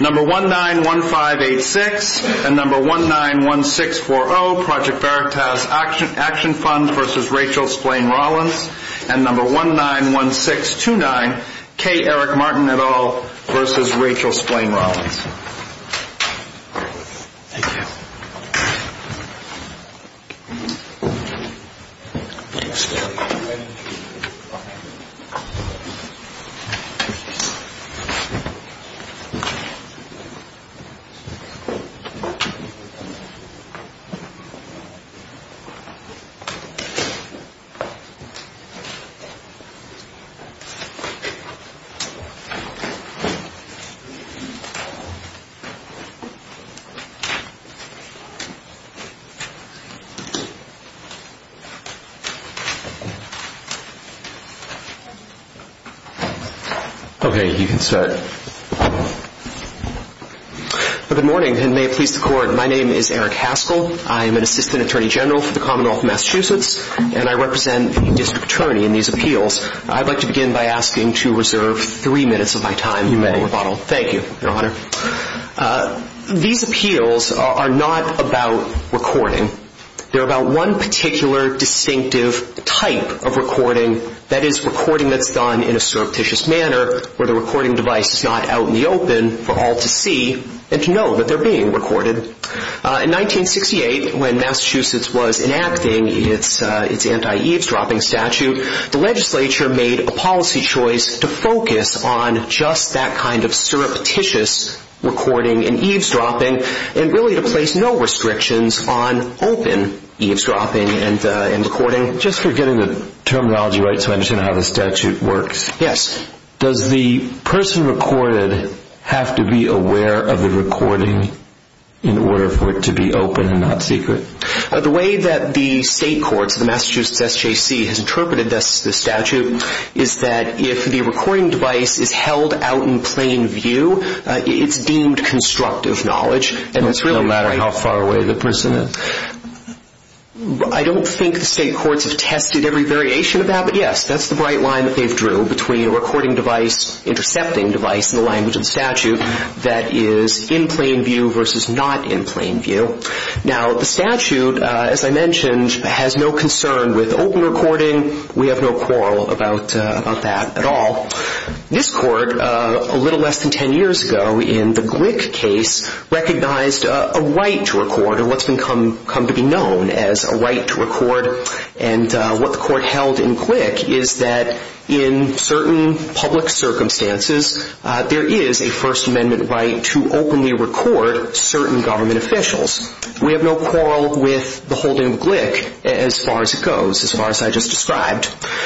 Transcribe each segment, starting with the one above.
Number 191586 and number 191640, Project Veritas Action Fund v. Rachel Splane Rollins and number 191629, K. Eric Martin et al. v. Rachel Splane Rollins. Okay, you can start. Good morning, and may it please the Court, my name is Eric Haskell. I am an assistant attorney general for the Commonwealth of Massachusetts, and I represent a district attorney in these appeals. I'd like to begin by asking to reserve three minutes of my time for rebuttal. You may. Thank you, Your Honor. These appeals are not about recording. They're about one particular distinctive type of recording, that is, recording that's done in a surreptitious manner where the recording device is not out in the open for all to see and to know that they're being recorded. In 1968, when Massachusetts was enacting its anti-eavesdropping statute, the legislature made a policy choice to focus on just that kind of surreptitious recording and eavesdropping and really to place no restrictions on open eavesdropping and recording. Just for getting the terminology right so I understand how the statute works. Yes. Does the person recorded have to be aware of the recording in order for it to be open and not secret? The way that the state courts, the Massachusetts SJC, has interpreted the statute is that if the recording device is held out in plain view, it's deemed constructive knowledge. No matter how far away the person is? I don't think the state courts have tested every variation of that, but yes, that's the right line that they've drew between a recording device, intercepting device in the language of the statute that is in plain view versus not in plain view. Now, the statute, as I mentioned, has no concern with open recording. We have no quarrel about that at all. This court, a little less than 10 years ago in the Glick case, recognized a right to record or what's come to be known as a right to record and what the court held in Glick is that in certain public circumstances, there is a First Amendment right to openly record certain government officials. We have no quarrel with the holding of Glick as far as it goes, as far as I just described.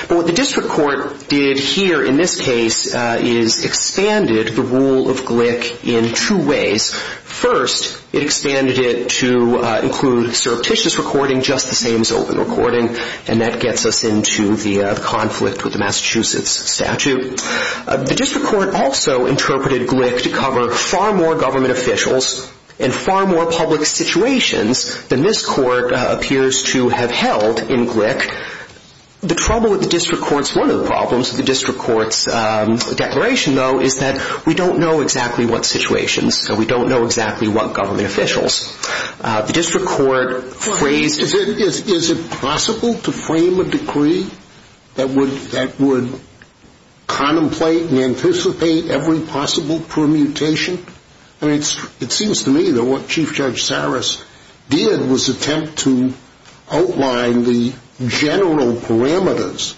But what the district court did here in this case is expanded the rule of Glick in two ways. First, it expanded it to include surreptitious recording, just the same as open recording, and that gets us into the conflict with the Massachusetts statute. The district court also interpreted Glick to cover far more government officials and far more public situations than this court appears to have held in Glick. The trouble with the district court's, one of the problems with the district court's declaration, though, is that we don't know exactly what situations, so we don't know exactly what government officials. The district court phrased... Is it possible to frame a decree that would contemplate and anticipate every possible permutation? I mean, it seems to me that what Chief Judge Saras did was attempt to outline the general parameters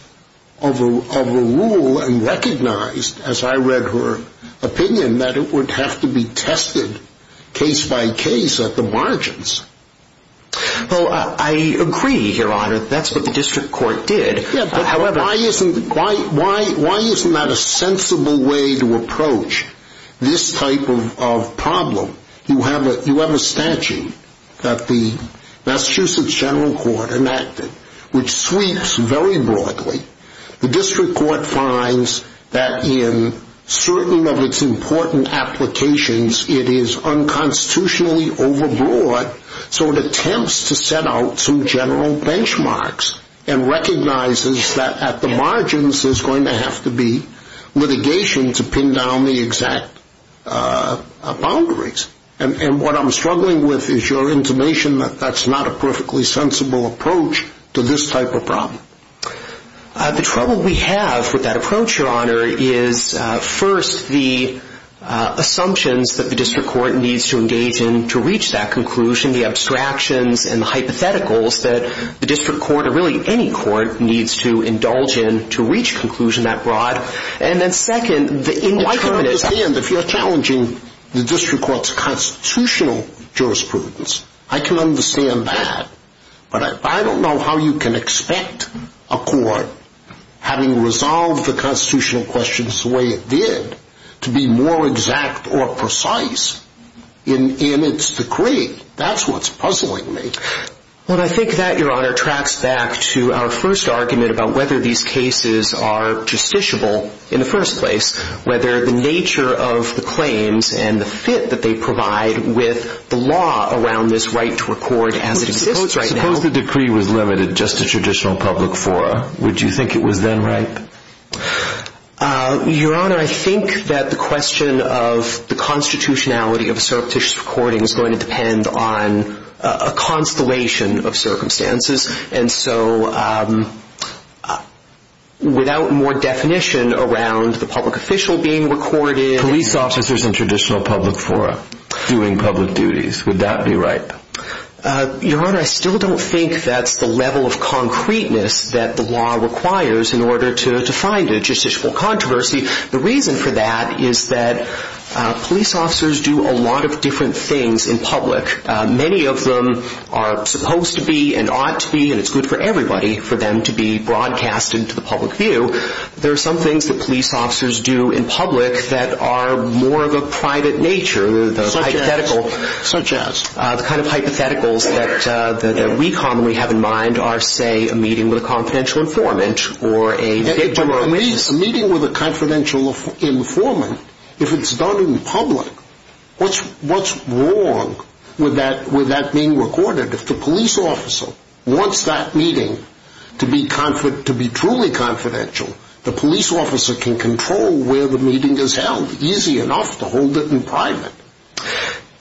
of a rule and recognized, as I read her opinion, that it would have to be tested case by case at the margins. Well, I agree, Your Honor, that's what the district court did. Yeah, but why isn't that a sensible way to approach this type of problem? You have a statute that the Massachusetts General Court enacted, which sweeps very broadly. The district court finds that in certain of its important applications, it is unconstitutionally overbroad, so it attempts to set out some general benchmarks and recognizes that at the margins there's going to have to be litigation to pin down the exact boundaries. And what I'm struggling with is your intimation that that's not a perfectly sensible approach to this type of problem. The trouble we have with that approach, Your Honor, is first the assumptions that the district court needs to engage in to reach that conclusion, the abstractions and the hypotheticals that the district court, or really any court, needs to indulge in to reach conclusion that broad. And then second, the indeterminates... Well, I can understand if you're challenging the district court's constitutional jurisprudence. I can understand that. But I don't know how you can expect a court, having resolved the constitutional questions the way it did, to be more exact or precise in its decree. That's what's puzzling me. Well, I think that, Your Honor, tracks back to our first argument about whether these cases are justiciable in the first place, whether the nature of the claims and the fit that they provide with the law around this right to record as it exists right now... Suppose the decree was limited just to traditional public fora. Would you think it was then right? Your Honor, I think that the question of the constitutionality of a surreptitious recording is going to depend on a constellation of circumstances. And so, without more definition around the public official being recorded... Police officers in traditional public fora doing public duties. Would that be right? Your Honor, I still don't think that's the level of concreteness that the law requires in order to find a justiciable controversy. The reason for that is that police officers do a lot of different things in public. Many of them are supposed to be and ought to be, and it's good for everybody for them to be broadcasted to the public view. There are some things that police officers do in public that are more of a private nature. Such as? The kind of hypotheticals that we commonly have in mind are, say, a meeting with a confidential informant A meeting with a confidential informant, if it's done in public, what's wrong with that being recorded? If the police officer wants that meeting to be truly confidential, the police officer can control where the meeting is held easy enough to hold it in private.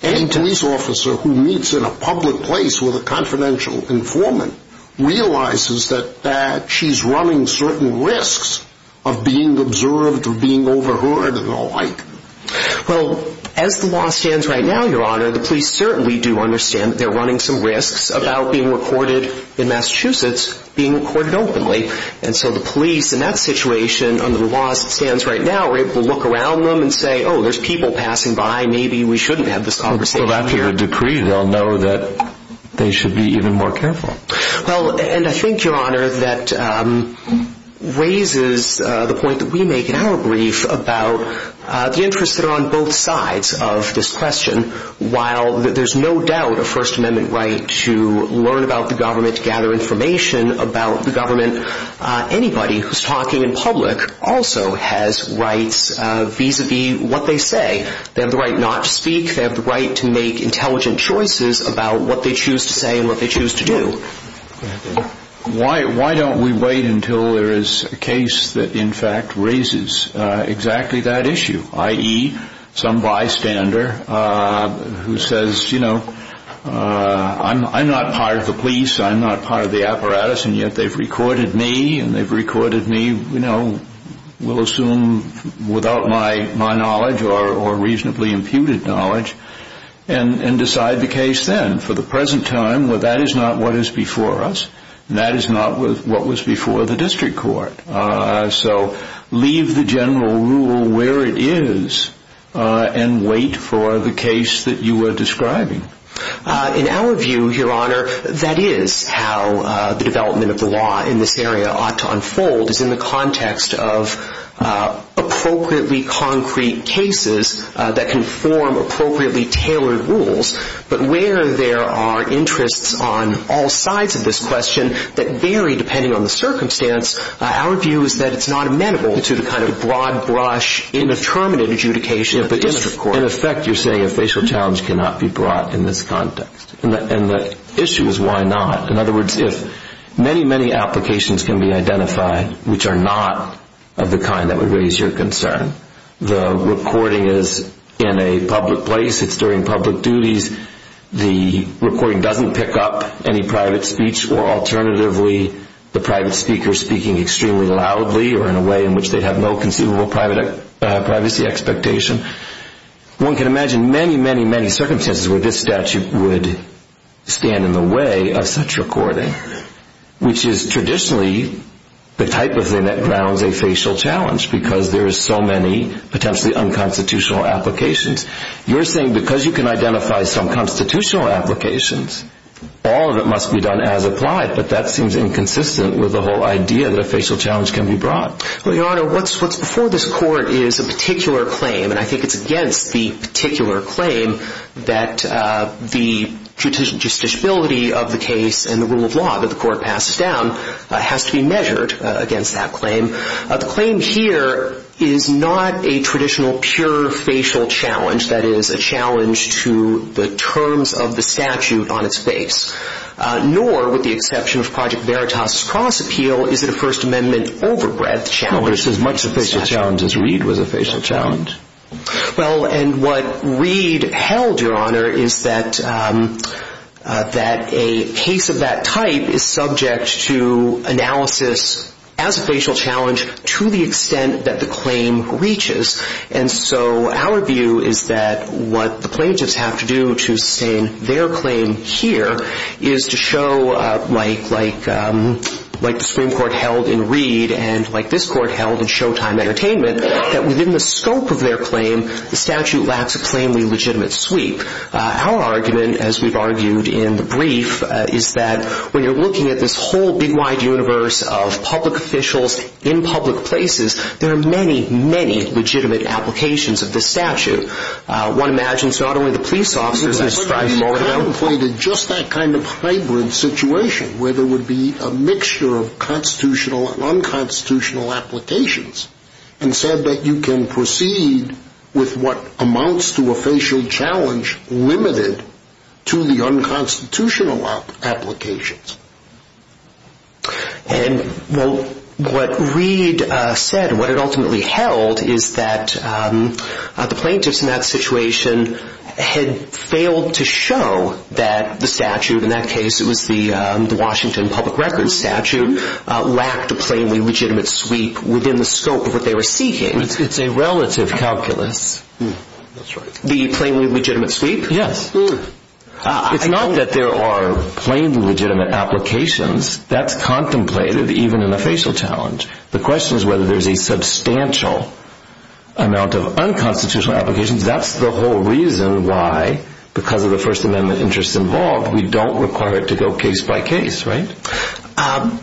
Any police officer who meets in a public place with a confidential informant realizes that she's running certain risks of being observed or being overheard and the like. Well, as the law stands right now, Your Honor, the police certainly do understand that they're running some risks about being recorded in Massachusetts being recorded openly. And so the police, in that situation, under the law as it stands right now, are able to look around them and say, oh, there's people passing by, maybe we shouldn't have this conversation here. Well, after your decree, they'll know that they should be even more careful. Well, and I think, Your Honor, that raises the point that we make in our brief about the interests that are on both sides of this question. While there's no doubt a First Amendment right to learn about the government, to gather information about the government, anybody who's talking in public also has rights vis-à-vis what they say. They have the right not to speak. They have the right to make intelligent choices about what they choose to say and what they choose to do. Why don't we wait until there is a case that, in fact, raises exactly that issue, i.e., some bystander who says, you know, I'm not part of the police, I'm not part of the apparatus, and yet they've recorded me and they've recorded me, you know, we'll assume without my knowledge or reasonably imputed knowledge, and decide the case then. For the present time, that is not what is before us, and that is not what was before the district court. So leave the general rule where it is and wait for the case that you are describing. In our view, Your Honor, that is how the development of the law in this area ought to unfold, is in the context of appropriately concrete cases that can form appropriately tailored rules. But where there are interests on all sides of this question that vary depending on the circumstance, our view is that it's not amenable to the kind of broad brush indeterminate adjudication of the district court. In effect, you're saying a facial challenge cannot be brought in this context, and the issue is why not. In other words, if many, many applications can be identified which are not of the kind that would raise your concern, the recording is in a public place, it's during public duties, the recording doesn't pick up any private speech, or alternatively, the private speaker speaking extremely loudly or in a way in which they have no conceivable privacy expectation, one can imagine many, many, many circumstances where this statute would stand in the way of such recording, which is traditionally the type of thing that grounds a facial challenge, because there is so many potentially unconstitutional applications. You're saying because you can identify some constitutional applications, all of it must be done as applied, but that seems inconsistent with the whole idea that a facial challenge can be brought. Well, Your Honor, what's before this court is a particular claim, and I think it's against the particular claim that the justiciability of the case and the rule of law that the court passes down has to be measured against that claim. The claim here is not a traditional pure facial challenge, that is, a challenge to the terms of the statute on its face, nor, with the exception of Project Veritas' cross appeal, is it a First Amendment overbreadth challenge. Well, it's as much a facial challenge as Reed was a facial challenge. Well, and what Reed held, Your Honor, is that a case of that type is subject to analysis as a facial challenge to the extent that the claim reaches, and so our view is that what the plaintiffs have to do to sustain their claim here is to show, like the Supreme Court held in Reed and like this court held in Showtime Entertainment, that within the scope of their claim, the statute lacks a plainly legitimate sweep. Our argument, as we've argued in the brief, is that when you're looking at this whole big, wide universe of public officials in public places, there are many, many legitimate applications of this statute. One imagines it's not only the police officers that strive for it. But he contemplated just that kind of hybrid situation where there would be a mixture of constitutional and unconstitutional applications and said that you can proceed with what amounts to a facial challenge limited to the unconstitutional applications. And what Reed said, what it ultimately held, is that the plaintiffs in that situation had failed to show that the statute, in that case it was the Washington Public Records statute, lacked a plainly legitimate sweep within the scope of what they were seeking. It's a relative calculus. The plainly legitimate sweep? Yes. It's not that there are plainly legitimate applications. That's contemplated even in a facial challenge. The question is whether there's a substantial amount of unconstitutional applications. That's the whole reason why, because of the First Amendment interests involved, we don't require it to go case by case, right?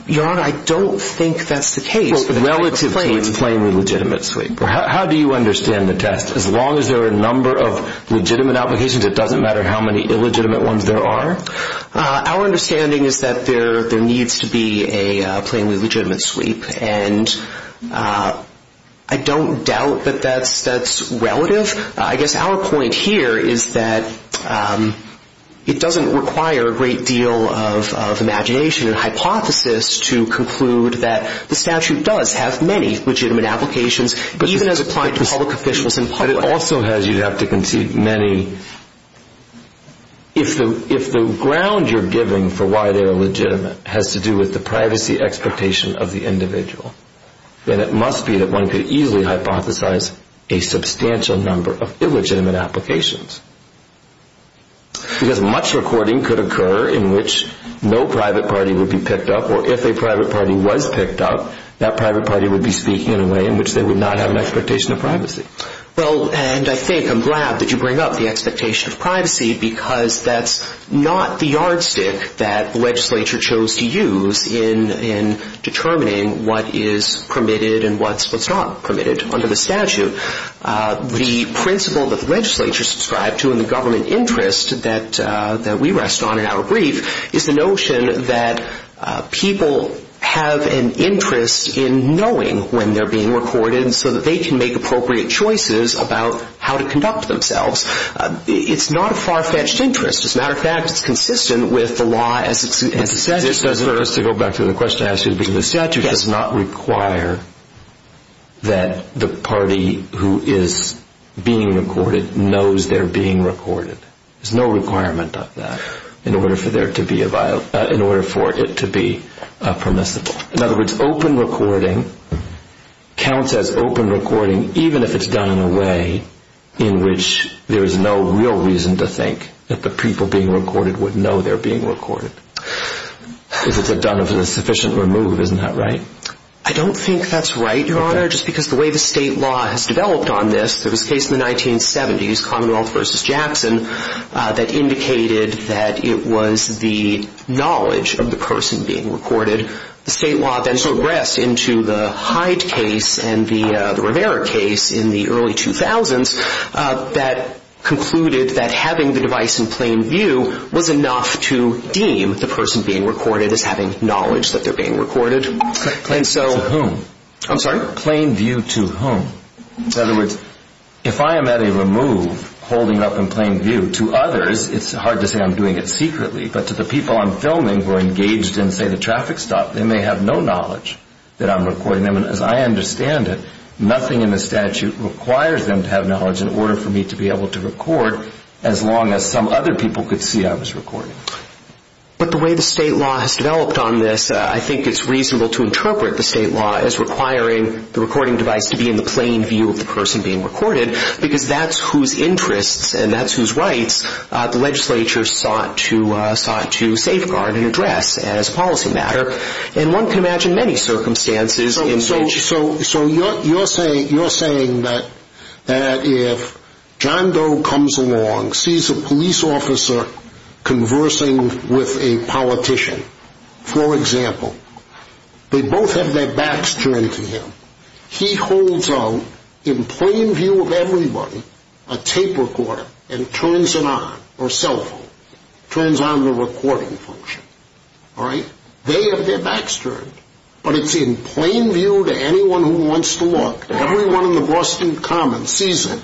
Your Honor, I don't think that's the case relative to its plainly legitimate sweep. How do you understand the test? As long as there are a number of legitimate applications, it doesn't matter how many illegitimate ones there are? Our understanding is that there needs to be a plainly legitimate sweep, and I don't doubt that that's relative. I guess our point here is that it doesn't require a great deal of imagination and hypothesis to conclude that the statute does have many legitimate applications, even as applied to public officials in public. But it also has, you'd have to concede, many. If the ground you're giving for why they are legitimate has to do with the privacy expectation of the individual, then it must be that one could easily hypothesize a substantial number of illegitimate applications. Because much recording could occur in which no private party would be picked up, or if a private party was picked up, that private party would be speaking in a way in which they would not have an expectation of privacy. Well, and I think I'm glad that you bring up the expectation of privacy, because that's not the yardstick that the legislature chose to use in determining what is permitted and what's not permitted under the statute. The principle that the legislature subscribed to in the government interest that we rest on in our brief is the notion that people have an interest in knowing when they're being recorded so that they can make appropriate choices about how to conduct themselves. It's not a far-fetched interest. As a matter of fact, it's consistent with the law as it stands. To go back to the question I asked you, the statute does not require that the party who is being recorded knows they're being recorded. There's no requirement of that in order for it to be permissible. In other words, open recording counts as open recording even if it's done in a way in which there is no real reason to think that the people being recorded would know they're being recorded. If it's done sufficiently removed, isn't that right? I don't think that's right, Your Honor, just because the way the state law has developed on this, there was a case in the 1970s, Commonwealth v. Jackson, that indicated that it was the knowledge of the person being recorded. The state law then progressed into the Hyde case and the Rivera case in the early 2000s that concluded that having the device in plain view was enough to deem the person being recorded as having knowledge that they're being recorded. Plain view to whom? I'm sorry? Plain view to whom? In other words, if I am at a remove holding up in plain view to others, it's hard to say I'm doing it secretly, but to the people I'm filming who are engaged in, say, the traffic stop, they may have no knowledge that I'm recording them. As I understand it, nothing in the statute requires them to have knowledge in order for me to be able to record as long as some other people could see I was recording. But the way the state law has developed on this, I think it's reasonable to interpret the state law as requiring the recording device to be in the plain view of the person being recorded because that's whose interests and that's whose rights the legislature sought to safeguard and address as a policy matter. And one can imagine many circumstances in which... So you're saying that if John Doe comes along, sees a police officer conversing with a politician, for example, they both have their backs turned to him. He holds out in plain view of everybody a tape recorder and turns it on, or cell phone, turns on the recording function. All right? They have their backs turned, but it's in plain view to anyone who wants to look. Everyone in the Boston Commons sees it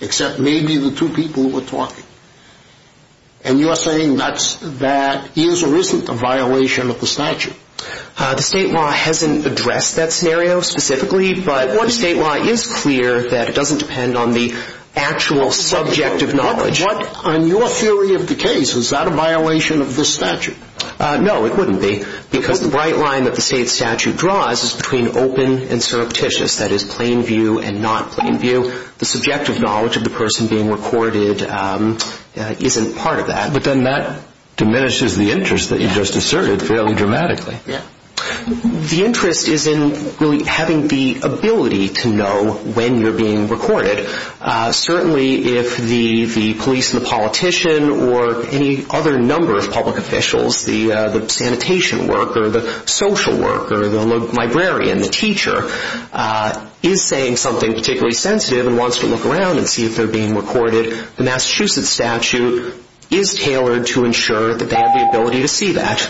except maybe the two people who are talking. And you are saying that is or isn't a violation of the statute? The state law hasn't addressed that scenario specifically, but the state law is clear that it doesn't depend on the actual subjective knowledge. But on your theory of the case, is that a violation of the statute? No, it wouldn't be because the bright line that the state statute draws is between open and surreptitious, that is, plain view and not plain view. So the subjective knowledge of the person being recorded isn't part of that. But then that diminishes the interest that you just asserted fairly dramatically. Yeah. The interest is in really having the ability to know when you're being recorded. Certainly if the police and the politician or any other number of public officials, the sanitation worker, the social worker, the librarian, the teacher, is saying something particularly sensitive and wants to look around and see if they're being recorded, the Massachusetts statute is tailored to ensure that they have the ability to see that.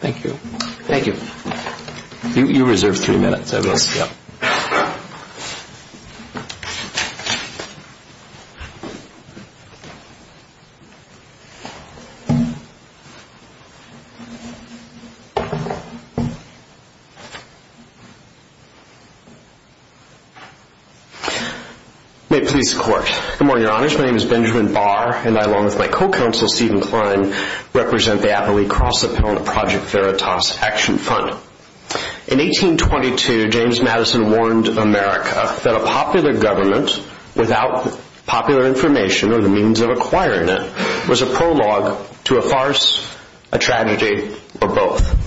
Thank you. Thank you. You reserve three minutes. I will. Thank you. May it please the Court. Good morning, Your Honors. My name is Benjamin Barr, and I, along with my co-counsel, Stephen Klein, represent the appellee cross-appellant Project Veritas Action Fund. In 1822, James Madison warned America that a popular government, without popular information or the means of acquiring it, was a prologue to a farce, a tragedy, or both.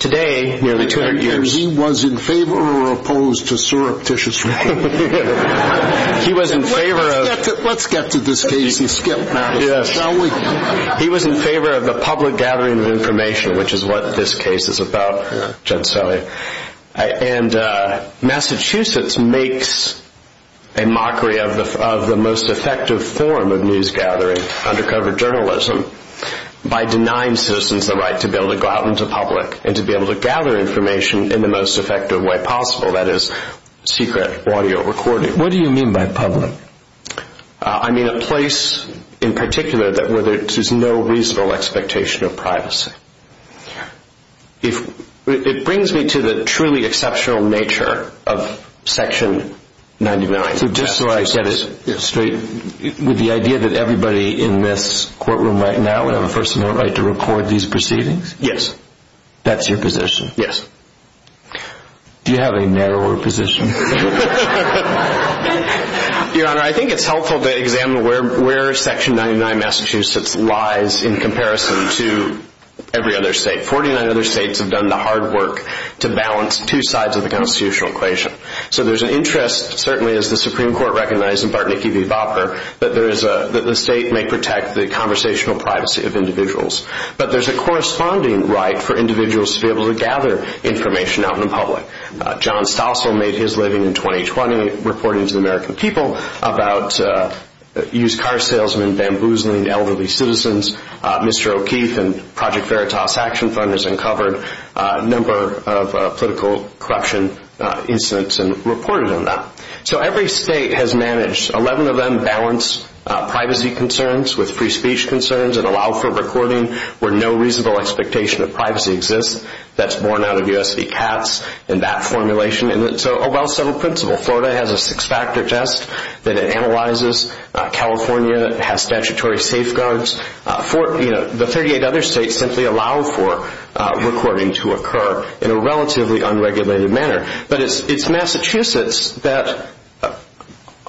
Today, nearly 200 years... He was in favor or opposed to surreptitious reporting. He was in favor of... Let's get to this case and skip Madison, shall we? He was in favor of the public gathering of information, which is what this case is about, and Massachusetts makes a mockery of the most effective form of news gathering, undercover journalism, by denying citizens the right to be able to go out into public and to be able to gather information in the most effective way possible, that is, secret audio recording. What do you mean by public? I mean a place, in particular, where there is no reasonable expectation of privacy. It brings me to the truly exceptional nature of Section 99. So just so I get it straight, the idea that everybody in this courtroom right now would have a personal right to record these proceedings? Yes. That's your position? Yes. Do you have a narrower position? Your Honor, I think it's helpful to examine where Section 99 Massachusetts lies in comparison to every other state. Forty-nine other states have done the hard work to balance two sides of the constitutional equation. So there's an interest, certainly as the Supreme Court recognized in Bartnicki v. Bopper, that the state may protect the conversational privacy of individuals. But there's a corresponding right for individuals to be able to gather information out in the public. John Stossel made his living in 2020 reporting to the American people about used car salesmen, bamboozling elderly citizens. Mr. O'Keefe and Project Veritas action funders uncovered a number of political corruption incidents and reported on that. So every state has managed. Eleven of them balance privacy concerns with free speech concerns and allow for recording where no reasonable expectation of privacy exists. That's borne out of U.S. v. Katz in that formulation. And it's a well-settled principle. Florida has a six-factor test that it analyzes. California has statutory safeguards. The 38 other states simply allow for recording to occur in a relatively unregulated manner. But it's Massachusetts that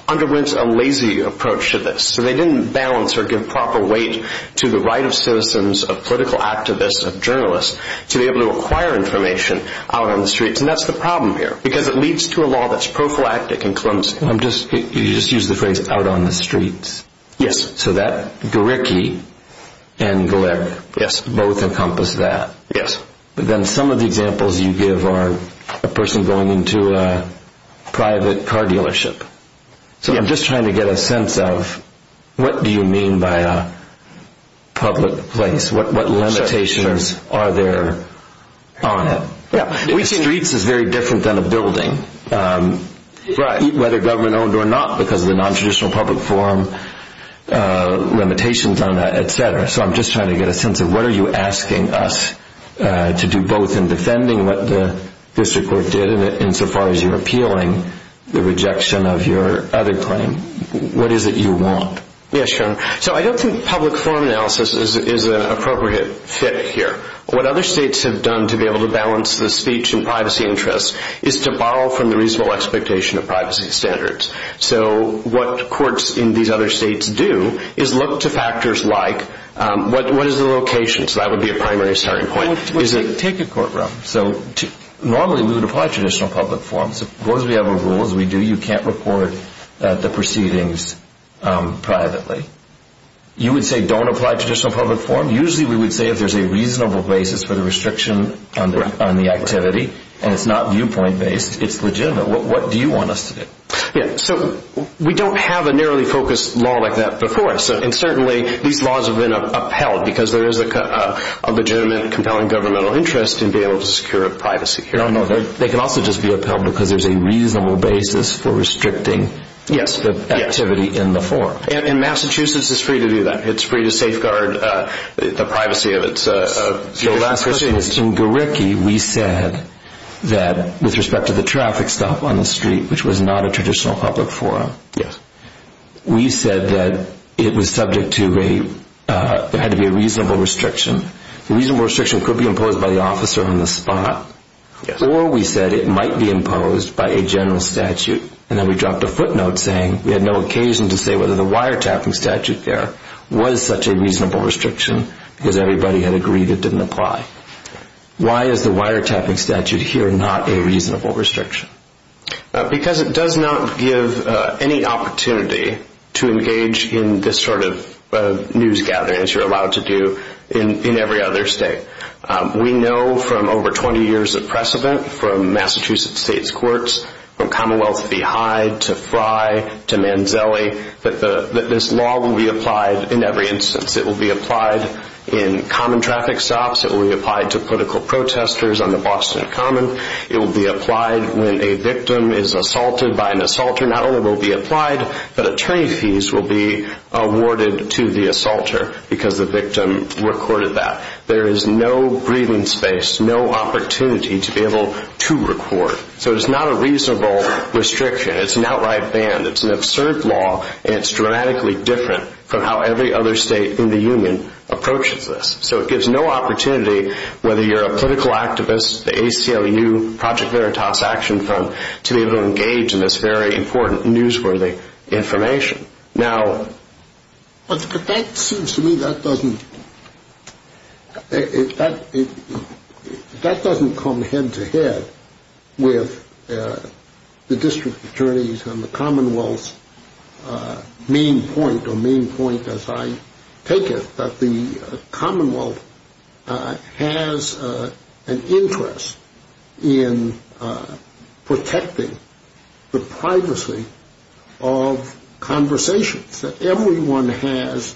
underwent a lazy approach to this. So they didn't balance or give proper weight to the right of citizens, of political activists, of journalists, to be able to acquire information out on the streets. And that's the problem here, because it leads to a law that's prophylactic and clumsy. You just used the phrase, out on the streets. Yes. So that, Garricky and Galeck, both encompass that. Yes. But then some of the examples you give are a person going into a private car dealership. So I'm just trying to get a sense of what do you mean by a public place? What limitations are there on it? Streets is very different than a building, whether government-owned or not, because of the nontraditional public forum limitations on that, et cetera. So I'm just trying to get a sense of what are you asking us to do, both in defending what the district court did insofar as you're appealing the rejection of your other claim? What is it you want? Yes, Sharon. So I don't think public forum analysis is an appropriate fit here. What other states have done to be able to balance the speech and privacy interests is to borrow from the reasonable expectation of privacy standards. So what courts in these other states do is look to factors like what is the location? So that would be a primary starting point. Take a courtroom. Normally we would apply traditional public forums. As long as we have our rules, we do. You can't report the proceedings privately. You would say don't apply traditional public forum. Usually we would say if there's a reasonable basis for the restriction on the activity and it's not viewpoint-based, it's legitimate. What do you want us to do? So we don't have a narrowly focused law like that before, and certainly these laws have been upheld because there is a legitimate compelling governmental interest in being able to secure a privacy hearing. They can also just be upheld because there's a reasonable basis for restricting the activity in the forum. And Massachusetts is free to do that. It's free to safeguard the privacy of its citizens. So last Christmas in Gariki, we said that with respect to the traffic stop on the street, which was not a traditional public forum, we said that it was subject to a reasonable restriction. The reasonable restriction could be imposed by the officer on the spot, or we said it might be imposed by a general statute. And then we dropped a footnote saying we had no occasion to say whether the wiretapping statute there was such a reasonable restriction because everybody had agreed it didn't apply. Why is the wiretapping statute here not a reasonable restriction? Because it does not give any opportunity to engage in this sort of news gathering, as you're allowed to do in every other state. We know from over 20 years of precedent from Massachusetts state's courts, from Commonwealth v. Hyde to Frye to Manzelli, that this law will be applied in every instance. It will be applied in common traffic stops. It will be applied to political protesters on the Boston Common. It will be applied when a victim is assaulted by an assaulter. This law not only will be applied, but attorney fees will be awarded to the assaulter because the victim recorded that. There is no breathing space, no opportunity to be able to record. So it's not a reasonable restriction. It's an outright ban. It's an absurd law, and it's dramatically different from how every other state in the union approaches this. So it gives no opportunity, whether you're a political activist, the ACLU, Project Veritas Action Fund, to be able to engage in this very important newsworthy information. Now, that seems to me that doesn't come head to head with the district attorneys and the Commonwealth's main point, or main point as I take it, that the Commonwealth has an interest in protecting the privacy of conversations, that everyone has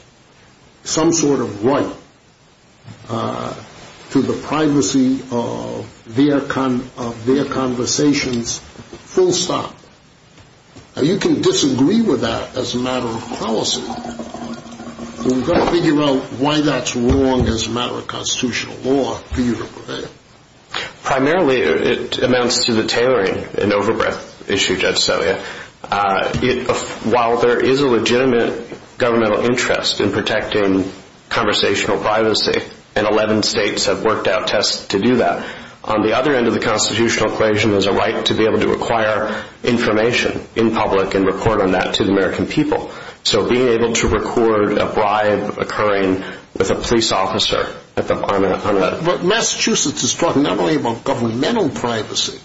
some sort of right to the privacy of their conversations full stop. Now, you can disagree with that as a matter of policy. We've got to figure out why that's wrong as a matter of constitutional law for you to prevail. Primarily, it amounts to the tailoring, an over-breath issue, Judge Celia. While there is a legitimate governmental interest in protecting conversational privacy, and 11 states have worked out tests to do that, on the other end of the constitutional equation there's a right to be able to acquire information in public and report on that to the American people. So being able to record a bribe occurring with a police officer on that. But Massachusetts is talking not only about governmental privacy,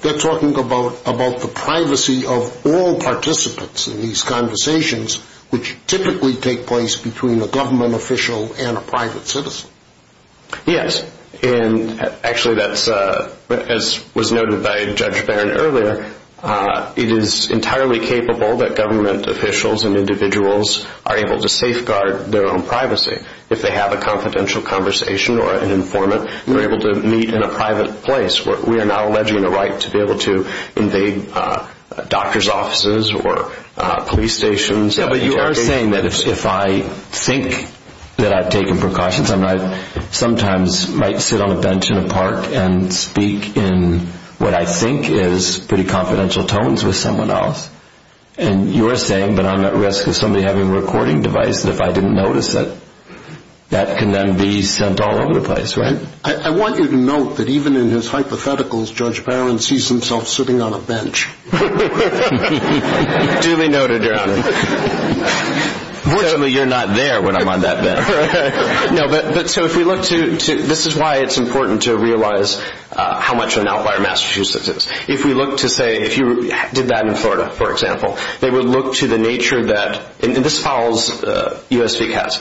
they're talking about the privacy of all participants in these conversations, which typically take place between a government official and a private citizen. Yes, and actually that's, as was noted by Judge Barron earlier, it is entirely capable that government officials and individuals are able to safeguard their own privacy. If they have a confidential conversation or an informant, they're able to meet in a private place. We're now alleging the right to be able to invade doctor's offices or police stations. Yeah, but you are saying that if I think that I've taken precautions, I sometimes might sit on a bench in a park and speak in what I think is pretty confidential tones with someone else, and you're saying that I'm at risk of somebody having a recording device and if I didn't notice it, that can then be sent all over the place, right? I want you to note that even in his hypotheticals, Judge Barron sees himself sitting on a bench. Duly noted, Your Honor. Fortunately, you're not there when I'm on that bench. No, but so if we look to, this is why it's important to realize how much an outlier Massachusetts is. If we look to say, if you did that in Florida, for example, they would look to the nature that, and this follows USVCAS,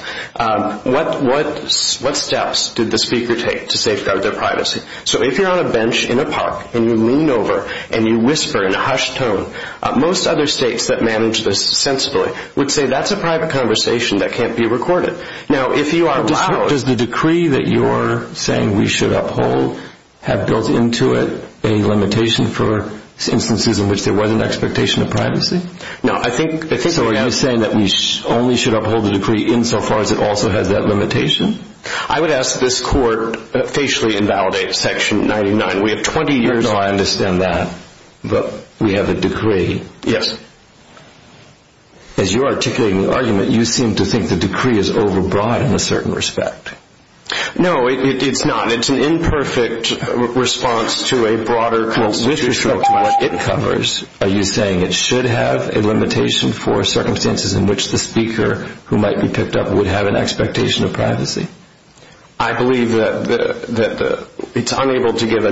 what steps did the speaker take to safeguard their privacy? So if you're on a bench in a park and you lean over and you whisper in a hushed tone, most other states that manage this sensibly would say, that's a private conversation that can't be recorded. Does the decree that you're saying we should uphold have built into it a limitation for instances in which there was an expectation of privacy? No, I think... So you're saying that we only should uphold the decree insofar as it also has that limitation? I would ask that this court facially invalidate section 99. We have 20 years... No, I understand that, but we have a decree. Yes. As you're articulating the argument, you seem to think the decree is overbroad in a certain respect. No, it's not. It's an imperfect response to a broader constitutional... Well, with respect to what it covers, are you saying it should have a limitation for circumstances in which the speaker who might be picked up would have an expectation of privacy? I believe that it's unable to give...